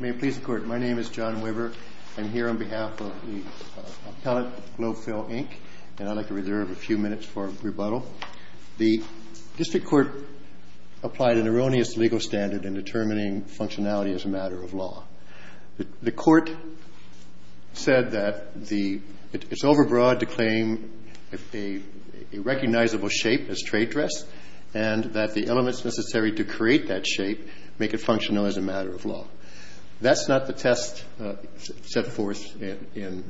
May it please the Court, my name is John Weber. I'm here on behalf of the Appellate Globefill, Inc., and I'd like to reserve a few minutes for rebuttal. The district court applied an erroneous legal standard in determining functionality as a matter of law. The court said that it's overbroad to claim a recognizable shape as trade dress and that the elements necessary to create that shape make it functional as a matter of law. That's not the test set forth in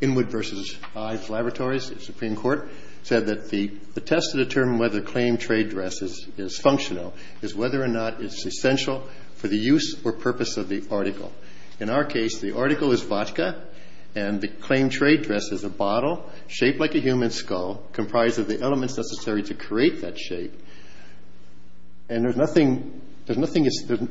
Inwood v. Ives Laboratories. The Supreme Court said that the test to determine whether claim trade dress is functional is whether or not it's essential for the use or purpose of the article. In our case, the article is vodka and the claim trade dress is a bottle shaped like a human skull comprised of the elements necessary to create that shape. And there's nothing, there's nothing,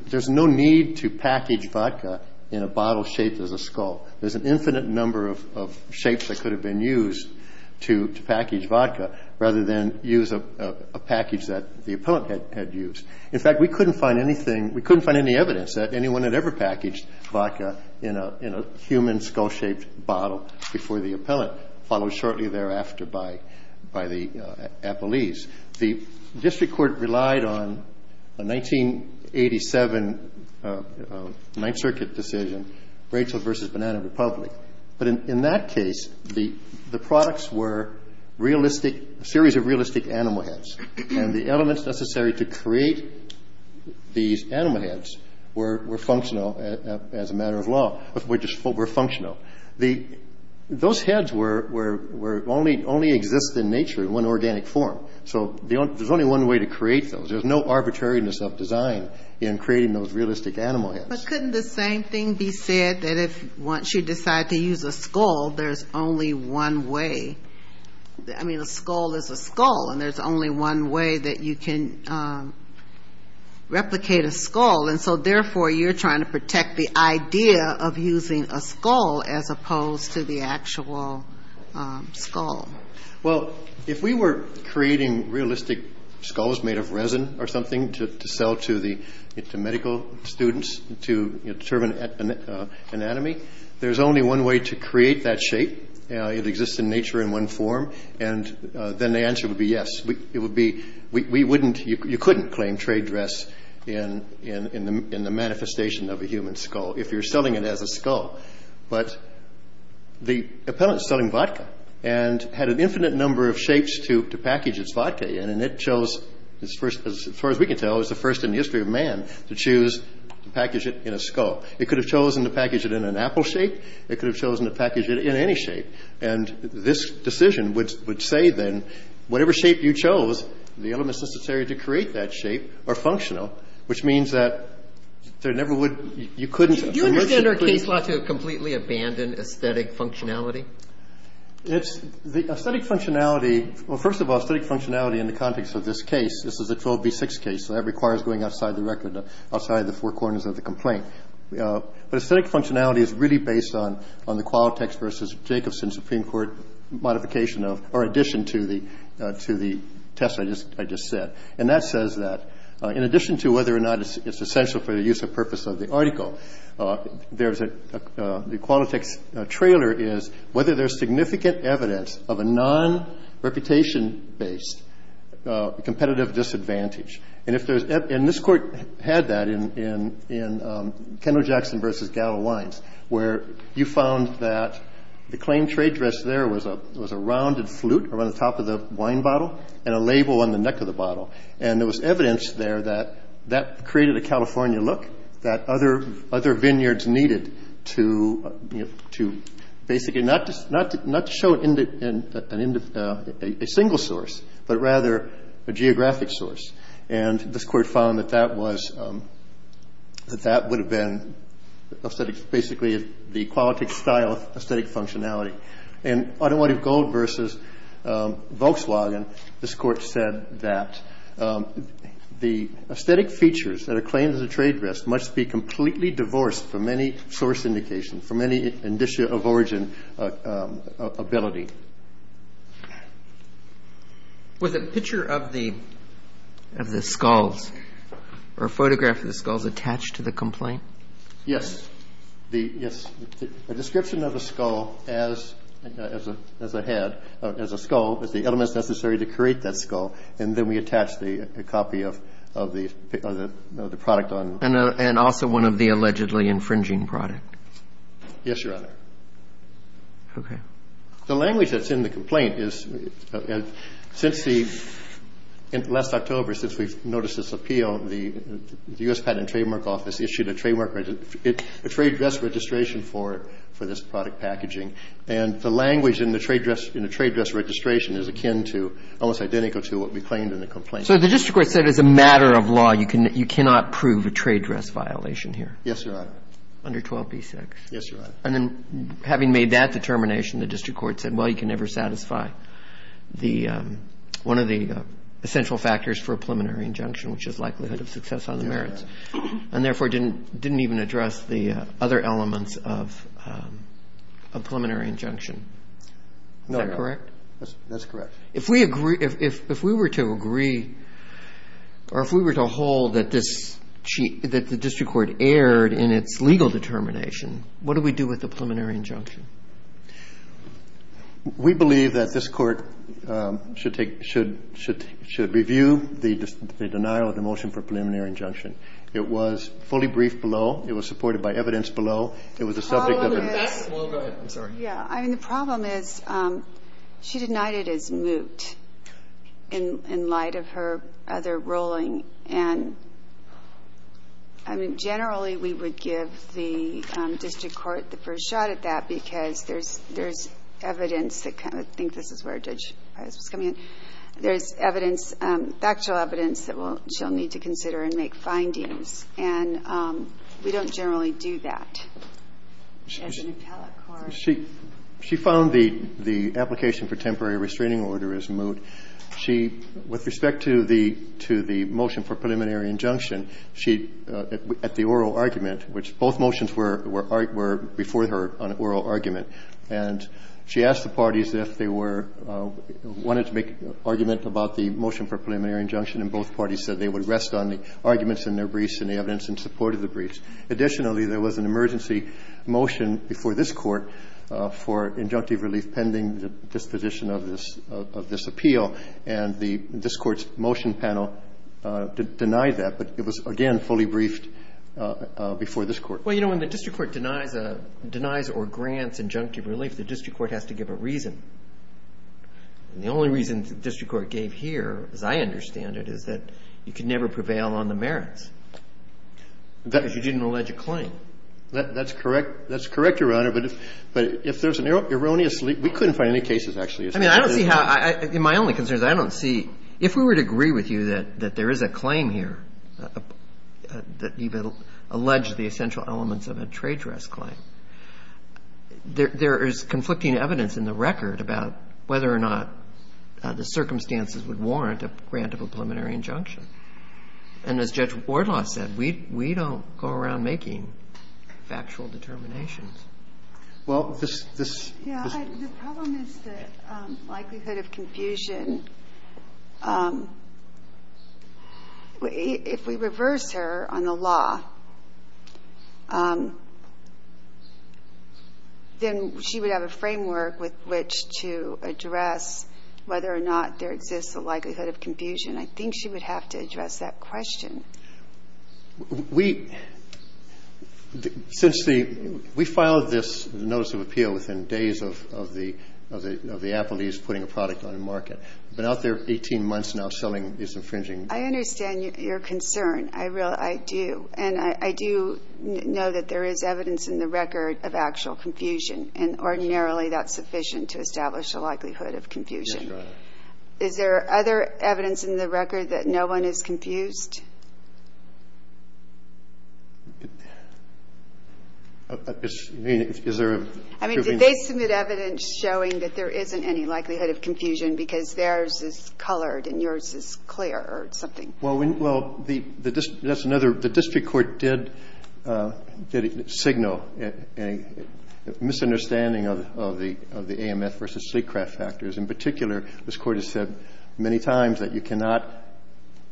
there's no need to package vodka in a bottle shaped as a skull. There's an infinite number of shapes that could have been used to package vodka rather than use a package that the appellant had used. In fact, we couldn't find anything, we couldn't find any evidence that anyone had ever packaged vodka in a human skull-shaped bottle before the appellant, followed shortly thereafter by the appellees. The district court relied on a 1987 Ninth Circuit decision, Rachel v. Banana Republic. But in that case, the products were realistic, a series of realistic animal heads. And the elements necessary to create these animal heads were functional as a matter of law, were functional. Those heads were, only exist in nature in one organic form. So there's only one way to create those. There's no arbitrariness of design in creating those realistic animal heads. But couldn't the same thing be said that if once you decide to use a skull, there's only one way? I mean, a skull is a skull, and there's only one way that you can replicate a skull. And so, therefore, you're trying to protect the idea of using a skull as opposed to the actual skull. Well, if we were creating realistic skulls made of resin or something to sell to medical students to determine anatomy, there's only one way to create that shape. It exists in nature in one form. And then the answer would be yes. It would be, we wouldn't, you couldn't claim trade dress in the manifestation of a human skull if you're selling it as a skull. But the appellant is selling vodka and had an infinite number of shapes to package its vodka in. And it chose, as far as we can tell, it was the first in the history of man to choose to package it in a skull. It could have chosen to package it in an apple shape. It could have chosen to package it in any shape. And this decision would say, then, whatever shape you chose, the elements necessary to create that shape are functional, which means that there never would, you couldn't. Do you understand our case law to completely abandon aesthetic functionality? It's, the aesthetic functionality, well, first of all, aesthetic functionality in the context of this case, this is a 12b6 case, so that requires going outside the record, outside of the four corners of the complaint. But aesthetic functionality is really based on the Qualtechs v. Jacobson Supreme Court modification of, or addition to the test I just said. And that says that, in addition to whether or not it's essential for the use of purpose of the article, there's a, the Qualtechs trailer is whether there's significant evidence of a non-reputation-based competitive disadvantage. And if there's, and this Court had that in Kendall-Jackson v. Gallo Wines, where you found that the claimed trade dress there was a rounded flute around the top of the wine bottle and a label on the neck of the bottle. And there was evidence there that that created a California look, that other vineyards needed to, you know, to basically not just, not to show a single source, but rather a geographic source. And this Court found that that was, that that would have been aesthetic, basically the Qualtech style of aesthetic functionality. In Automotive Gold v. Volkswagen, this Court said that the aesthetic features that are claimed as a trade dress must be completely divorced from any source indication, from any indicia of origin ability. With a picture of the, of the skulls, or a photograph of the skulls attached to the complaint? Yes. The, yes. A description of a skull as a head, as a skull, as the elements necessary to create that skull. And then we attach the copy of the product on. And also one of the allegedly infringing product. Yes, Your Honor. Okay. The language that's in the complaint is, since the, last October, since we've noticed this appeal, the U.S. Patent and Trademark Office issued a trademark, a trade dress registration for this product packaging. And the language in the trade dress, in the trade dress registration is akin to, almost identical to what we claimed in the complaint. So the District Court said as a matter of law, you cannot prove a trade dress violation here? Yes, Your Honor. Under 12b6? Yes, Your Honor. And then having made that determination, the District Court said, well, you can never satisfy the, one of the essential factors for a preliminary injunction, which is likelihood of success on the merits. And therefore, didn't even address the other elements of a preliminary injunction. Is that correct? That's correct. If we agree, if we were to agree, or if we were to hold that this, that the District Court erred in its legal determination, what do we do with the preliminary injunction? We believe that this Court should take, should review the denial of the motion for preliminary injunction. It was fully briefed below. It was supported by evidence below. It was a subject of a... Well, go ahead. I'm sorry. Yeah. I mean, the problem is she denied it as moot in light of her other ruling. And, I mean, generally we would give the District Court the first shot at that because there's evidence that kind of, I think this is where Judge Pius was coming in. There's evidence, factual evidence that she'll need to consider and make findings. And we don't generally do that as an appellate court. She found the application for temporary restraining order as moot. She, with respect to the motion for preliminary injunction, she, at the oral argument, which both motions were before her on oral argument, and she asked the parties if they were, wanted to make argument about the motion for preliminary injunction and both parties said they would rest on the arguments in their briefs and the evidence in support of the briefs. Additionally, there was an emergency motion before this Court for injunctive relief pending disposition of this appeal. And this Court's motion panel denied that. But it was, again, fully briefed before this Court. Well, you know, when the District Court denies or grants injunctive relief, the District Court has to give a reason. And the only reason the District Court gave here, as I understand it, is that you can never prevail on the merits because you didn't allege a claim. That's correct. That's correct, Your Honor. But if there's an erroneous leak, we couldn't find any cases, actually. I mean, I don't see how – my only concern is I don't see – if we were to agree with you that there is a claim here, that you've alleged the essential elements of a trade dress claim, there is conflicting evidence in the record about whether or not the circumstances would warrant a grant of a preliminary injunction. And as Judge Wardlaw said, we don't go around making factual determinations. Well, this – this – Yeah, the problem is the likelihood of confusion. If we reverse her on the law, then she would have a framework with which to address whether or not there exists a likelihood of confusion. I think she would have to address that question. We – since the – we filed this notice of appeal within days of the – of the appellees putting a product on the market. We've been out there 18 months now selling these infringing – I understand your concern. I do. And I do know that there is evidence in the record of actual confusion, and ordinarily that's sufficient to establish a likelihood of confusion. Yes, Your Honor. Is there other evidence in the record that no one is confused? I mean, is there a – I mean, did they submit evidence showing that there isn't any likelihood of confusion because theirs is colored and yours is clear or something? Well, we – well, the – that's another – the district court did – did signal a misunderstanding of the – of the AMF versus Sleekcraft factors. In particular, this Court has said many times that you cannot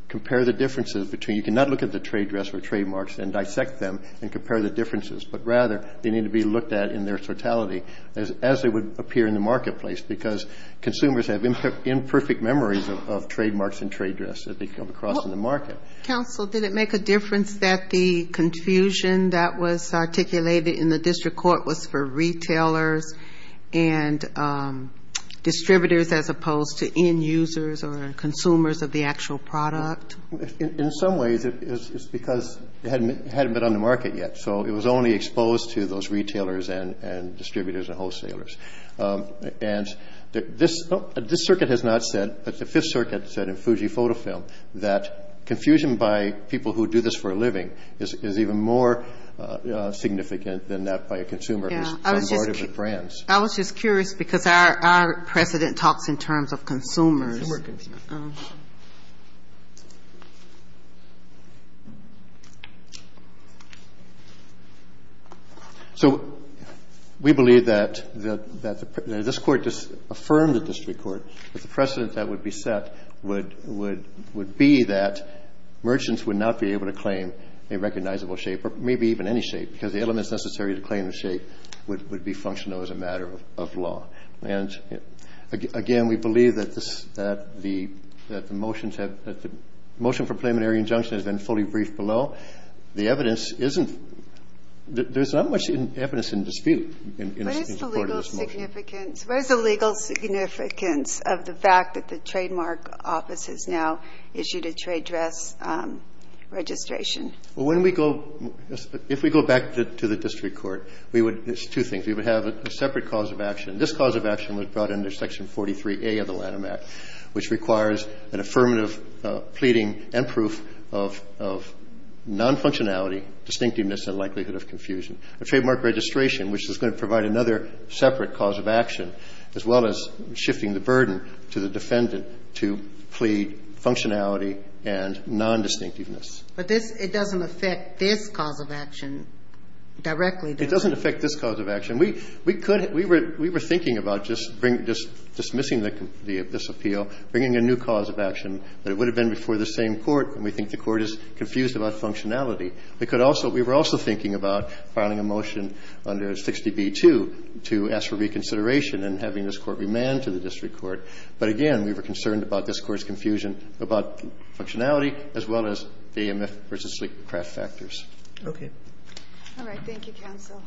compare the differences between – you cannot look at the trade dress or trademarks and dissect them and compare the differences, but rather they need to be looked at in their totality as they would appear in the marketplace because consumers have imperfect memories of trademarks and trade dress that they come across in the market. Counsel, did it make a difference that the confusion that was articulated in the district court was for retailers and distributors as opposed to end users or consumers of the actual product? In some ways, it's because it hadn't been on the market yet. So it was only exposed to those retailers and distributors and wholesalers. And this – this circuit has not said, but the Fifth Circuit said in Fujifilm that confusion by people who do this for a living is even more significant than that by a consumer who is part of the brands. I was just curious because our – our precedent talks in terms of consumers. Consumers. So we believe that – that the – that this Court just affirmed the district court that the precedent that would be set would – would – would be that merchants would not be able to claim a recognizable shape or maybe even any shape because the elements necessary to claim the shape would be functional as a matter of law. And, again, we believe that this – that the – that the motions have – that the motion for preliminary injunction has been fully briefed below. The evidence isn't – there's not much evidence in dispute in this part of this motion. What is the legal significance of the fact that the trademark office has now issued a trade dress registration? Well, when we go – if we go back to the district court, we would – it's two things. We would have a separate cause of action. This cause of action was brought under Section 43A of the Lanham Act, which requires an affirmative pleading and proof of – of non-functionality, distinctiveness and likelihood of confusion. A trademark registration, which is going to provide another separate cause of action, as well as shifting the burden to the defendant to plead functionality and non-distinctiveness. But this – it doesn't affect this cause of action directly, does it? It doesn't affect this cause of action. We – we could – we were – we were thinking about just bringing – just dismissing the – this appeal, bringing a new cause of action, but it would have been before the same court, and we think the court is confused about functionality. We could also – we were also thinking about filing a motion under 60B-2 to ask for reconsideration and having this court remand to the district court. But again, we were concerned about this court's confusion about functionality as well as AMF versus sleep craft factors. Okay. All right. Thank you, counsel.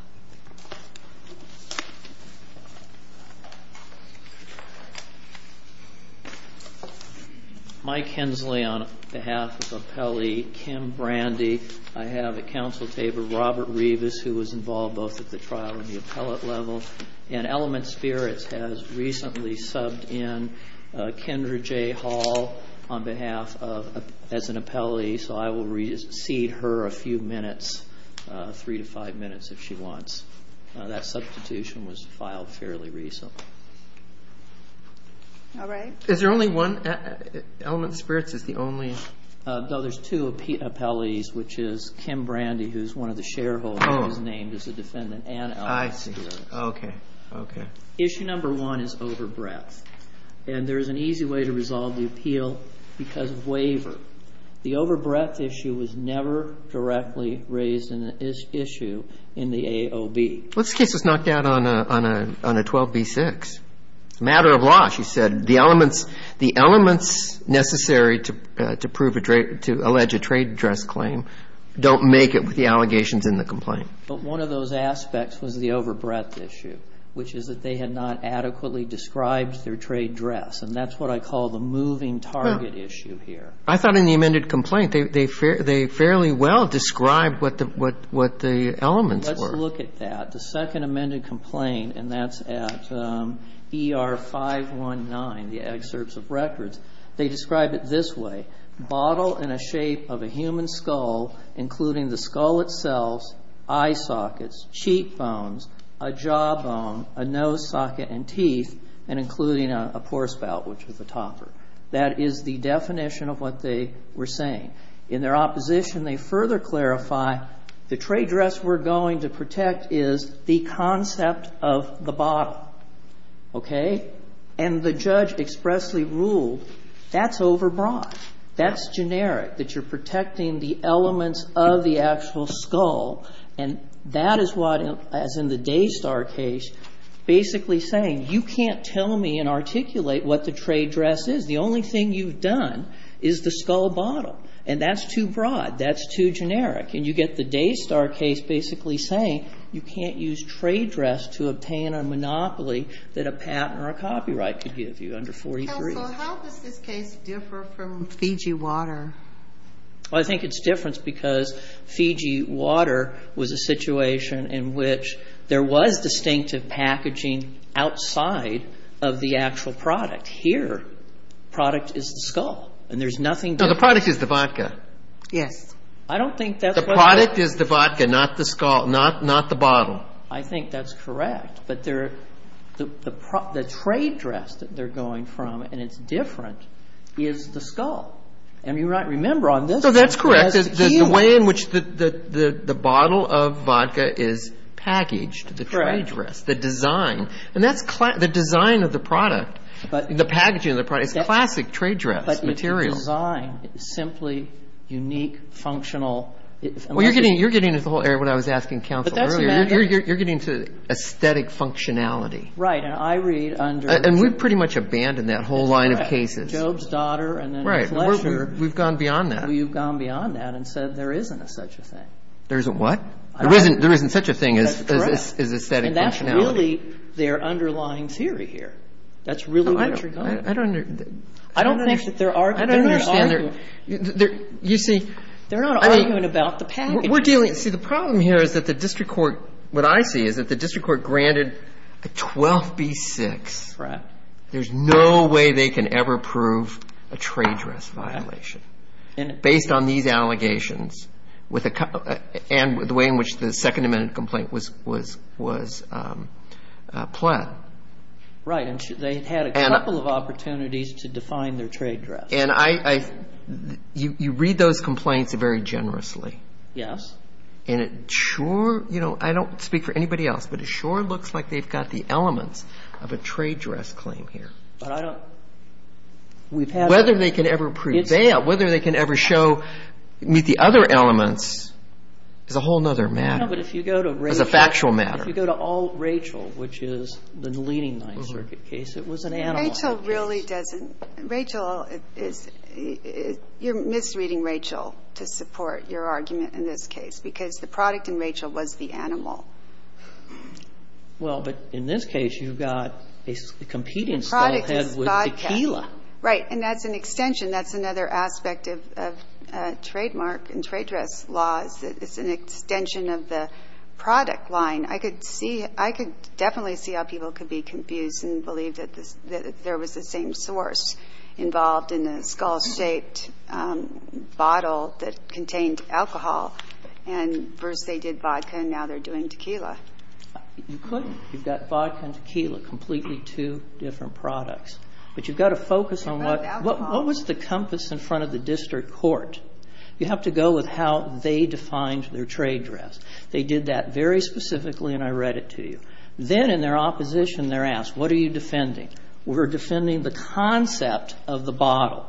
Mike Hensley on behalf of appellee Kim Brandy. I have at counsel table Robert Rivas, who was involved both at the trial and the appellate level. And Element Spirits has recently subbed in Kendra J. Hall on behalf of – as an appellee, so I will recede her a few minutes, three to five minutes, if she wants. That substitution was filed fairly recently. All right. Is there only one – Element Spirits is the only – No, there's two appellees, which is Kim Brandy, who is one of the shareholders and is named as a defendant, and Element Spirits. I see. Okay. Okay. Issue number one is over breadth. And there is an easy way to resolve the appeal because of waiver. The over breadth issue was never directly raised in this issue in the AOB. This case was knocked out on a 12b-6. It's a matter of law, she said. The elements necessary to prove a trade – to allege a trade dress claim don't make it with the allegations in the complaint. But one of those aspects was the over breadth issue, which is that they had not adequately described their trade dress. And that's what I call the moving target issue here. I thought in the amended complaint they fairly well described what the elements were. Let's look at that. The second amended complaint, and that's at ER-519, the excerpts of records, they describe it this way. Bottle in a shape of a human skull, including the skull itself, eye sockets, cheek bones, a jaw bone, a nose socket, and teeth, and including a poor spout, which is a topper. That is the definition of what they were saying. In their opposition, they further clarify the trade dress we're going to protect is the concept of the bottle. Okay? And the judge expressly ruled that's over broad. That's generic, that you're protecting the elements of the actual skull. And that is what, as in the Daystar case, basically saying you can't tell me and the only thing you've done is the skull bottle. And that's too broad. That's too generic. And you get the Daystar case basically saying you can't use trade dress to obtain a monopoly that a patent or a copyright could give you under 43. Counsel, how does this case differ from Fiji Water? Well, I think it's different because Fiji Water was a situation in which there was distinctive packaging outside of the actual product. Here, product is the skull. And there's nothing different. No, the product is the vodka. Yes. I don't think that's what they're saying. The product is the vodka, not the skull, not the bottle. I think that's correct. But the trade dress that they're going from, and it's different, is the skull. And you might remember on this one. No, that's correct. The way in which the bottle of vodka is packaged, the trade dress, the design. And that's the design of the product. The packaging of the product is classic trade dress materials. But the design is simply unique, functional. Well, you're getting into the whole area of what I was asking counsel earlier. You're getting to aesthetic functionality. Right. And I read under. And we've pretty much abandoned that whole line of cases. That's correct. Job's daughter. Right. And we've gone beyond that. We've gone beyond that and said there isn't such a thing. There isn't what? There isn't such a thing as aesthetic functionality. And that's really their underlying theory here. That's really what you're going with. I don't understand. I don't think that they're arguing. I don't understand. You see. They're not arguing about the packaging. We're dealing. See, the problem here is that the district court, what I see, is that the district court granted a 12B6. Right. There's no way they can ever prove a trade dress violation. Right. Based on these allegations and the way in which the Second Amendment complaint was pled. Right. And they had a couple of opportunities to define their trade dress. And you read those complaints very generously. Yes. And it sure, you know, I don't speak for anybody else, but it sure looks like they've got the elements of a trade dress claim here. But I don't. Whether they can ever prove that, whether they can ever show, meet the other elements is a whole other matter. No, but if you go to Rachel. It's a factual matter. If you go to all Rachel, which is the leading Ninth Circuit case, it was an animal. Rachel really doesn't. Rachel is, you're misreading Rachel to support your argument in this case because the product in Rachel was the animal. Well, but in this case, you've got a competing stall head with tequila. Right. And that's an extension. That's another aspect of trademark and trade dress laws. It's an extension of the product line. I could see, I could definitely see how people could be confused and believe that there was the same source involved in a skull-shaped bottle that contained alcohol. And first they did vodka and now they're doing tequila. You couldn't. You've got vodka and tequila, completely two different products. But you've got to focus on what, what was the compass in front of the district court? You have to go with how they defined their trade dress. They did that very specifically and I read it to you. Then in their opposition, they're asked, what are you defending? We're defending the concept of the bottle,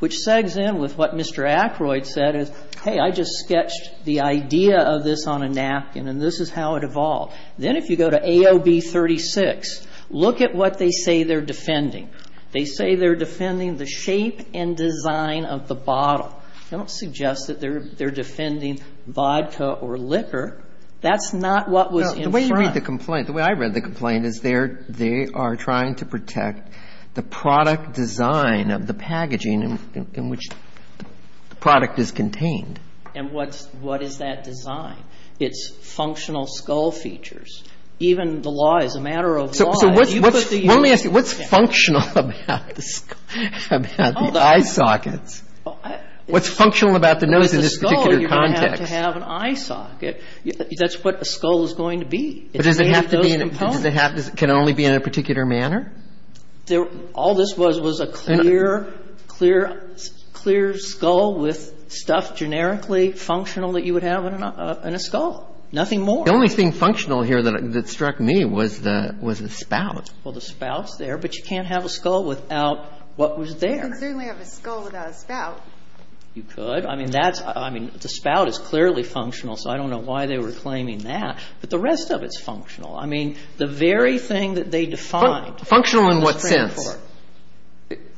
which segues in with what Mr. Ackroyd said is, hey, I just sketched the idea of this on a napkin and this is how it evolved. Then if you go to AOB 36, look at what they say they're defending. They say they're defending the shape and design of the bottle. I don't suggest that they're defending vodka or liquor. That's not what was in front. The way you read the complaint, the way I read the complaint is they are trying to protect the product design of the packaging in which the product is contained. And what is that design? It's functional skull features. Even the law is a matter of law. Let me ask you, what's functional about the eye sockets? What's functional about the nose in this particular context? With the skull, you don't have to have an eye socket. That's what a skull is going to be. It's made of those components. But does it have to be in a – can it only be in a particular manner? All this was was a clear, clear, clear skull with stuff generically functional that you would have in a skull. Nothing more. The only thing functional here that struck me was the spout. Well, the spout's there, but you can't have a skull without what was there. Well, you can certainly have a skull without a spout. You could. I mean, that's – I mean, the spout is clearly functional, so I don't know why they were claiming that. But the rest of it's functional. I mean, the very thing that they defined – Functional in what sense?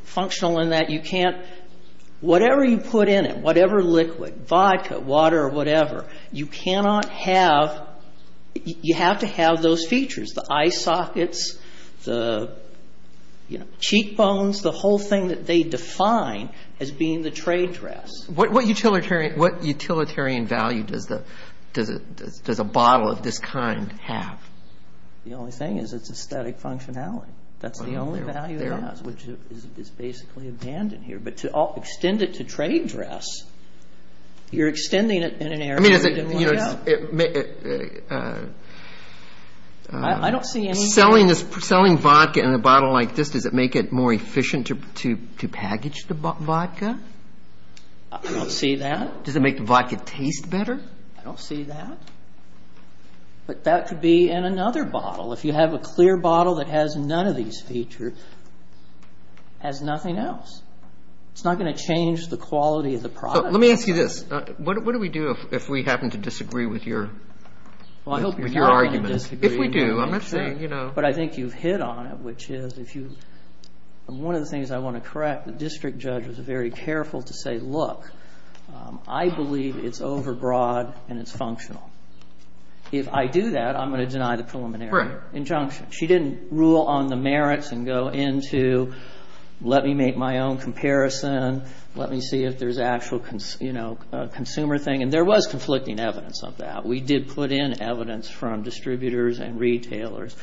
Functional in that you can't – whatever you put in it, whatever liquid, vodka, water, whatever, you cannot have – you have to have those features. The eye sockets, the, you know, cheekbones, the whole thing that they define as being the trade dress. What utilitarian value does a bottle of this kind have? The only thing is it's aesthetic functionality. That's the only value it has, which is basically abandoned here. But to extend it to trade dress, you're extending it in an area you didn't want to have. I don't see any – Selling this – selling vodka in a bottle like this, does it make it more efficient to package the vodka? I don't see that. Does it make the vodka taste better? I don't see that. But that could be in another bottle. If you have a clear bottle that has none of these features, it has nothing else. It's not going to change the quality of the product. Let me ask you this. What do we do if we happen to disagree with your argument? If we do, I'm not saying, you know – But I think you've hit on it, which is if you – one of the things I want to correct, the district judge was very careful to say, look, I believe it's overbroad and it's functional. If I do that, I'm going to deny the preliminary injunction. She didn't rule on the merits and go into let me make my own comparison, let me see if there's actual consumer thing. And there was conflicting evidence of that. We did put in evidence from distributors and retailers.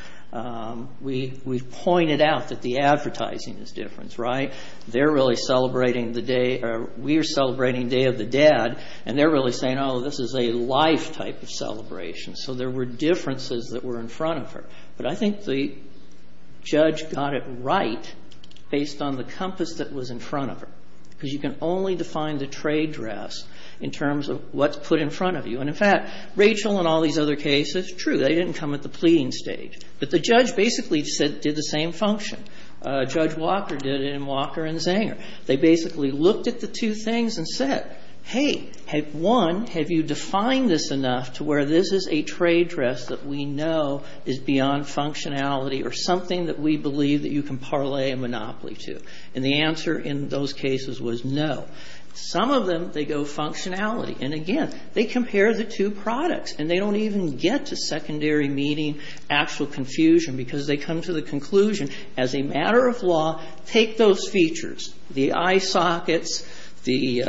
We pointed out that the advertising is different, right? They're really celebrating the day – we are celebrating Day of the Dead, and they're really saying, oh, this is a life type of celebration. So there were differences that were in front of her. But I think the judge got it right based on the compass that was in front of her, because you can only define the trade dress in terms of what's put in front of you. And, in fact, Rachel and all these other cases, true, they didn't come at the pleading stage, but the judge basically did the same function. Judge Walker did it in Walker and Zanger. They basically looked at the two things and said, hey, one, have you defined this enough to where this is a trade dress that we know is beyond functionality or something that we believe that you can parlay a monopoly to? And the answer in those cases was no. Some of them, they go functionality. And, again, they compare the two products, and they don't even get to secondary meaning, actual confusion, because they come to the conclusion, as a matter of law, take those features, the eye sockets, the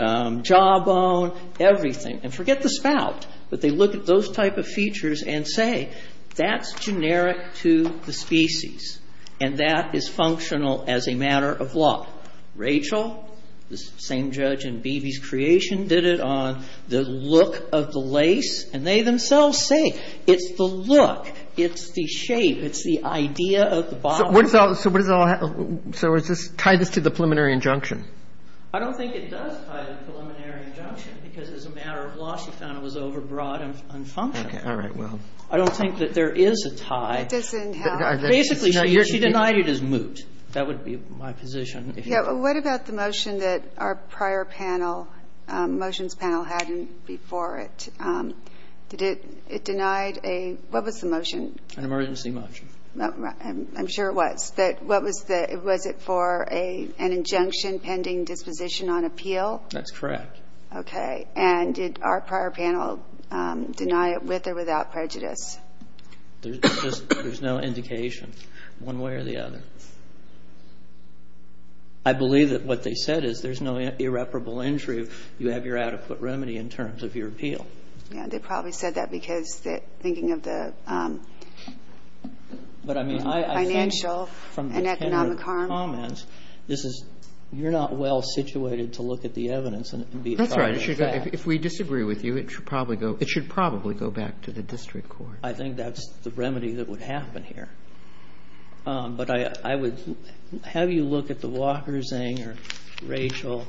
jawbone, everything, and forget the spout. But they look at those type of features and say, that's generic to the species, and that is functional as a matter of law. Rachel, the same judge in Beebe's creation, did it on the look of the lace. And they themselves say it's the look, it's the shape, it's the idea of the bottom. Kagan. So what does it all have to do with this? So does this tie this to the preliminary injunction? I don't think it does tie to the preliminary injunction, because as a matter of law, I also found it was overbroad and unfunctional. Okay. All right. Well. I don't think that there is a tie. It doesn't help. Basically, she denied it as moot. That would be my position. Yeah. What about the motion that our prior panel, motions panel had before it? Did it deny a – what was the motion? An emergency motion. I'm sure it was. Was it for an injunction pending disposition on appeal? That's correct. Okay. And did our prior panel deny it with or without prejudice? There's no indication one way or the other. I believe that what they said is there's no irreparable injury. You have your adequate remedy in terms of your appeal. Yeah. They probably said that because thinking of the financial and economic harm. But, I mean, I think from the tenure of the comments, this is – you're not well situated to look at the evidence and be I think that's the remedy that would happen here. If we disagree with you, it should probably go – it should probably go back to the district court. I think that's the remedy that would happen here. But I would have you look at the Walker-Zang or Rachel,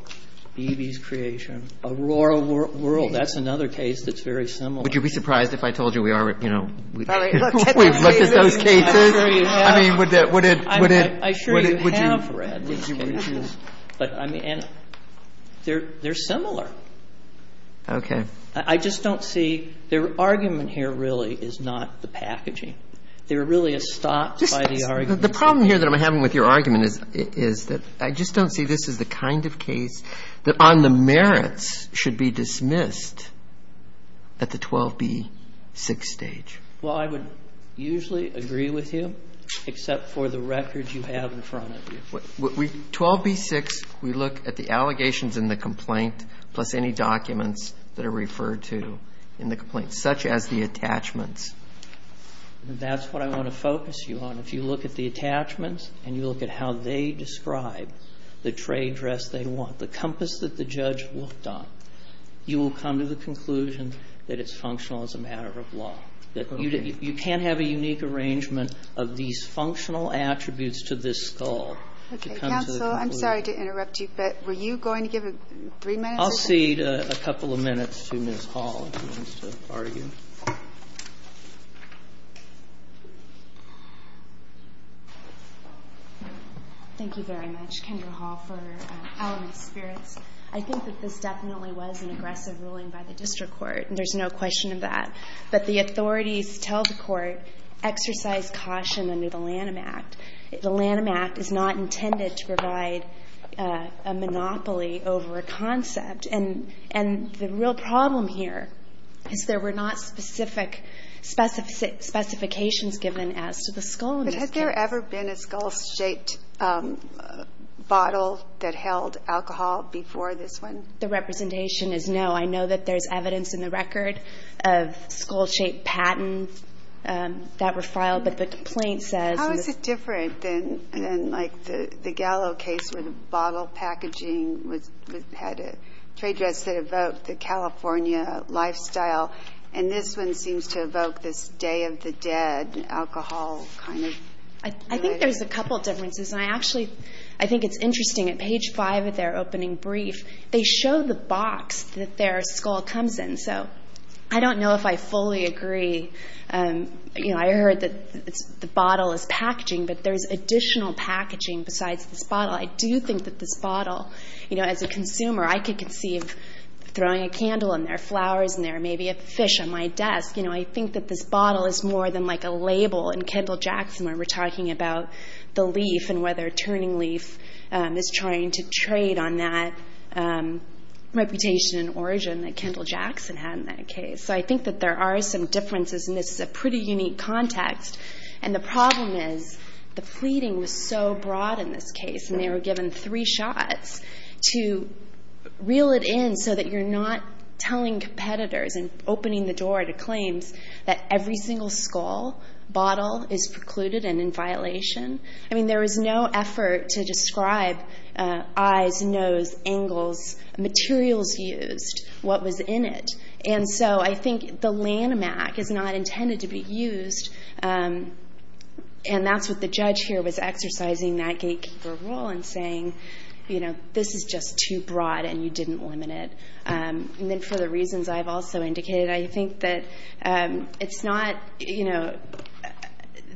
Beebe's creation, Aurora World. That's another case that's very similar. Would you be surprised if I told you we already, you know, looked at those cases? I'm sure you have. I mean, would it – would it – would it – would you – They're similar. Okay. I just don't see – their argument here really is not the packaging. They're really a stop by the argument. The problem here that I'm having with your argument is that I just don't see this as the kind of case that on the merits should be dismissed at the 12b6 stage. Well, I would usually agree with you, except for the records you have in front of you. 12b6, we look at the allegations in the complaint, plus any documents that are referred to in the complaint, such as the attachments. That's what I want to focus you on. If you look at the attachments and you look at how they describe the trade dress they want, the compass that the judge looked on, you will come to the conclusion that it's functional as a matter of law. Okay. You can't have a unique arrangement of these functional attributes to this skull. Okay. Counsel, I'm sorry to interrupt you, but were you going to give three minutes? I'll cede a couple of minutes to Ms. Hall if she wants to argue. Thank you very much, Kendra Hall, for powering my spirits. I think that this definitely was an aggressive ruling by the district court, and there's no question of that. But the authorities tell the court, exercise caution under the Lanham Act. The Lanham Act is not intended to provide a monopoly over a concept. And the real problem here is there were not specific specifications given as to the skull. But has there ever been a skull-shaped bottle that held alcohol before this one? The representation is no. I know that there's evidence in the record of skull-shaped patents that were filed. But the complaint says- How is it different than, like, the Gallo case where the bottle packaging had a trade dress that evoked the California lifestyle, and this one seems to evoke this Day of the Dead alcohol kind of- I think there's a couple of differences. And I actually think it's interesting. At page 5 of their opening brief, they show the box that their skull comes in. So I don't know if I fully agree. You know, I heard that the bottle is packaging, but there's additional packaging besides this bottle. I do think that this bottle, you know, as a consumer, I could conceive throwing a candle in there, flowers in there, maybe a fish on my desk. You know, I think that this bottle is more than, like, a label. And Kendall Jackson, when we're talking about the leaf and whether Turning Leaf is trying to trade on that reputation and origin that Kendall Jackson had in that case. So I think that there are some differences, and this is a pretty unique context. And the problem is the pleading was so broad in this case, and they were given three shots to reel it in so that you're not telling competitors and opening the door to claims that every single skull bottle is precluded and in violation. I mean, there was no effort to describe eyes, nose, angles, materials used, what was in it. And so I think the Lanhamac is not intended to be used, and that's what the judge here was exercising that gatekeeper rule and saying, you know, this is just too broad and you didn't limit it. And then for the reasons I've also indicated, I think that it's not, you know,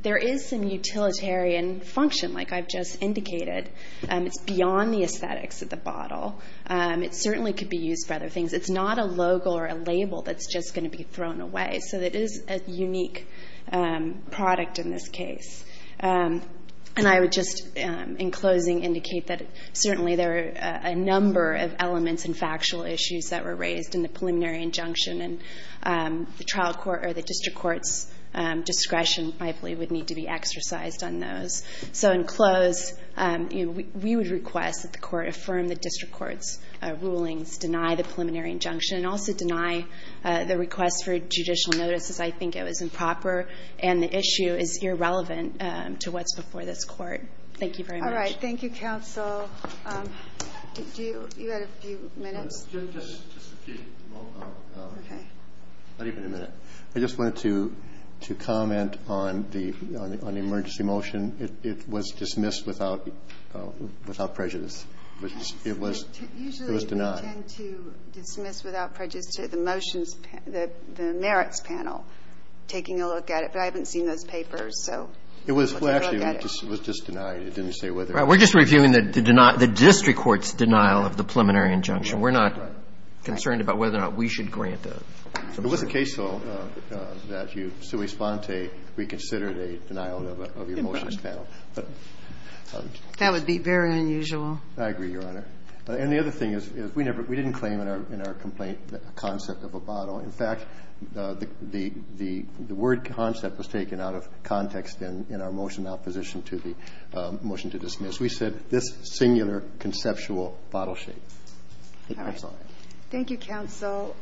there is some utilitarian function, like I've just indicated. It's beyond the aesthetics of the bottle. It certainly could be used for other things. It's not a logo or a label that's just going to be thrown away. So it is a unique product in this case. And I would just, in closing, indicate that certainly there are a number of elements and factual issues that were raised in the preliminary injunction, and the trial court or the district court's discretion, I believe, would need to be exercised on those. So in close, we would request that the court affirm the district court's rulings, deny the preliminary injunction, and also deny the request for judicial notices. I think it was improper and the issue is irrelevant to what's before this court. Thank you very much. All right. Thank you, counsel. Do you have a few minutes? Just a few. Okay. Not even a minute. I just wanted to comment on the emergency motion. It was dismissed without prejudice. It was denied. We intend to dismiss without prejudice the motions, the merits panel, taking a look at it. But I haven't seen those papers. So let's have a look at it. It was actually just denied. It didn't say whether it was. Right. We're just reviewing the district court's denial of the preliminary injunction. We're not concerned about whether or not we should grant the motion. It was a case, though, that you, sui sponte, reconsidered a denial of your motions panel. That would be very unusual. I agree, Your Honor. And the other thing is, we didn't claim in our complaint the concept of a bottle. In fact, the word concept was taken out of context in our motion in opposition to the motion to dismiss. We said this singular conceptual bottle shape. All right. Thank you, counsel.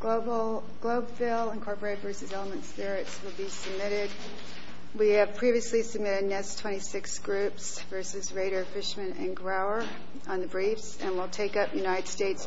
Globeville Incorporated v. Elements Ferrets will be submitted. We have previously submitted NIST 26 groups v. Rader, Fishman, and Grower on the briefs. And we'll take up United States v. Weiss-Lesky.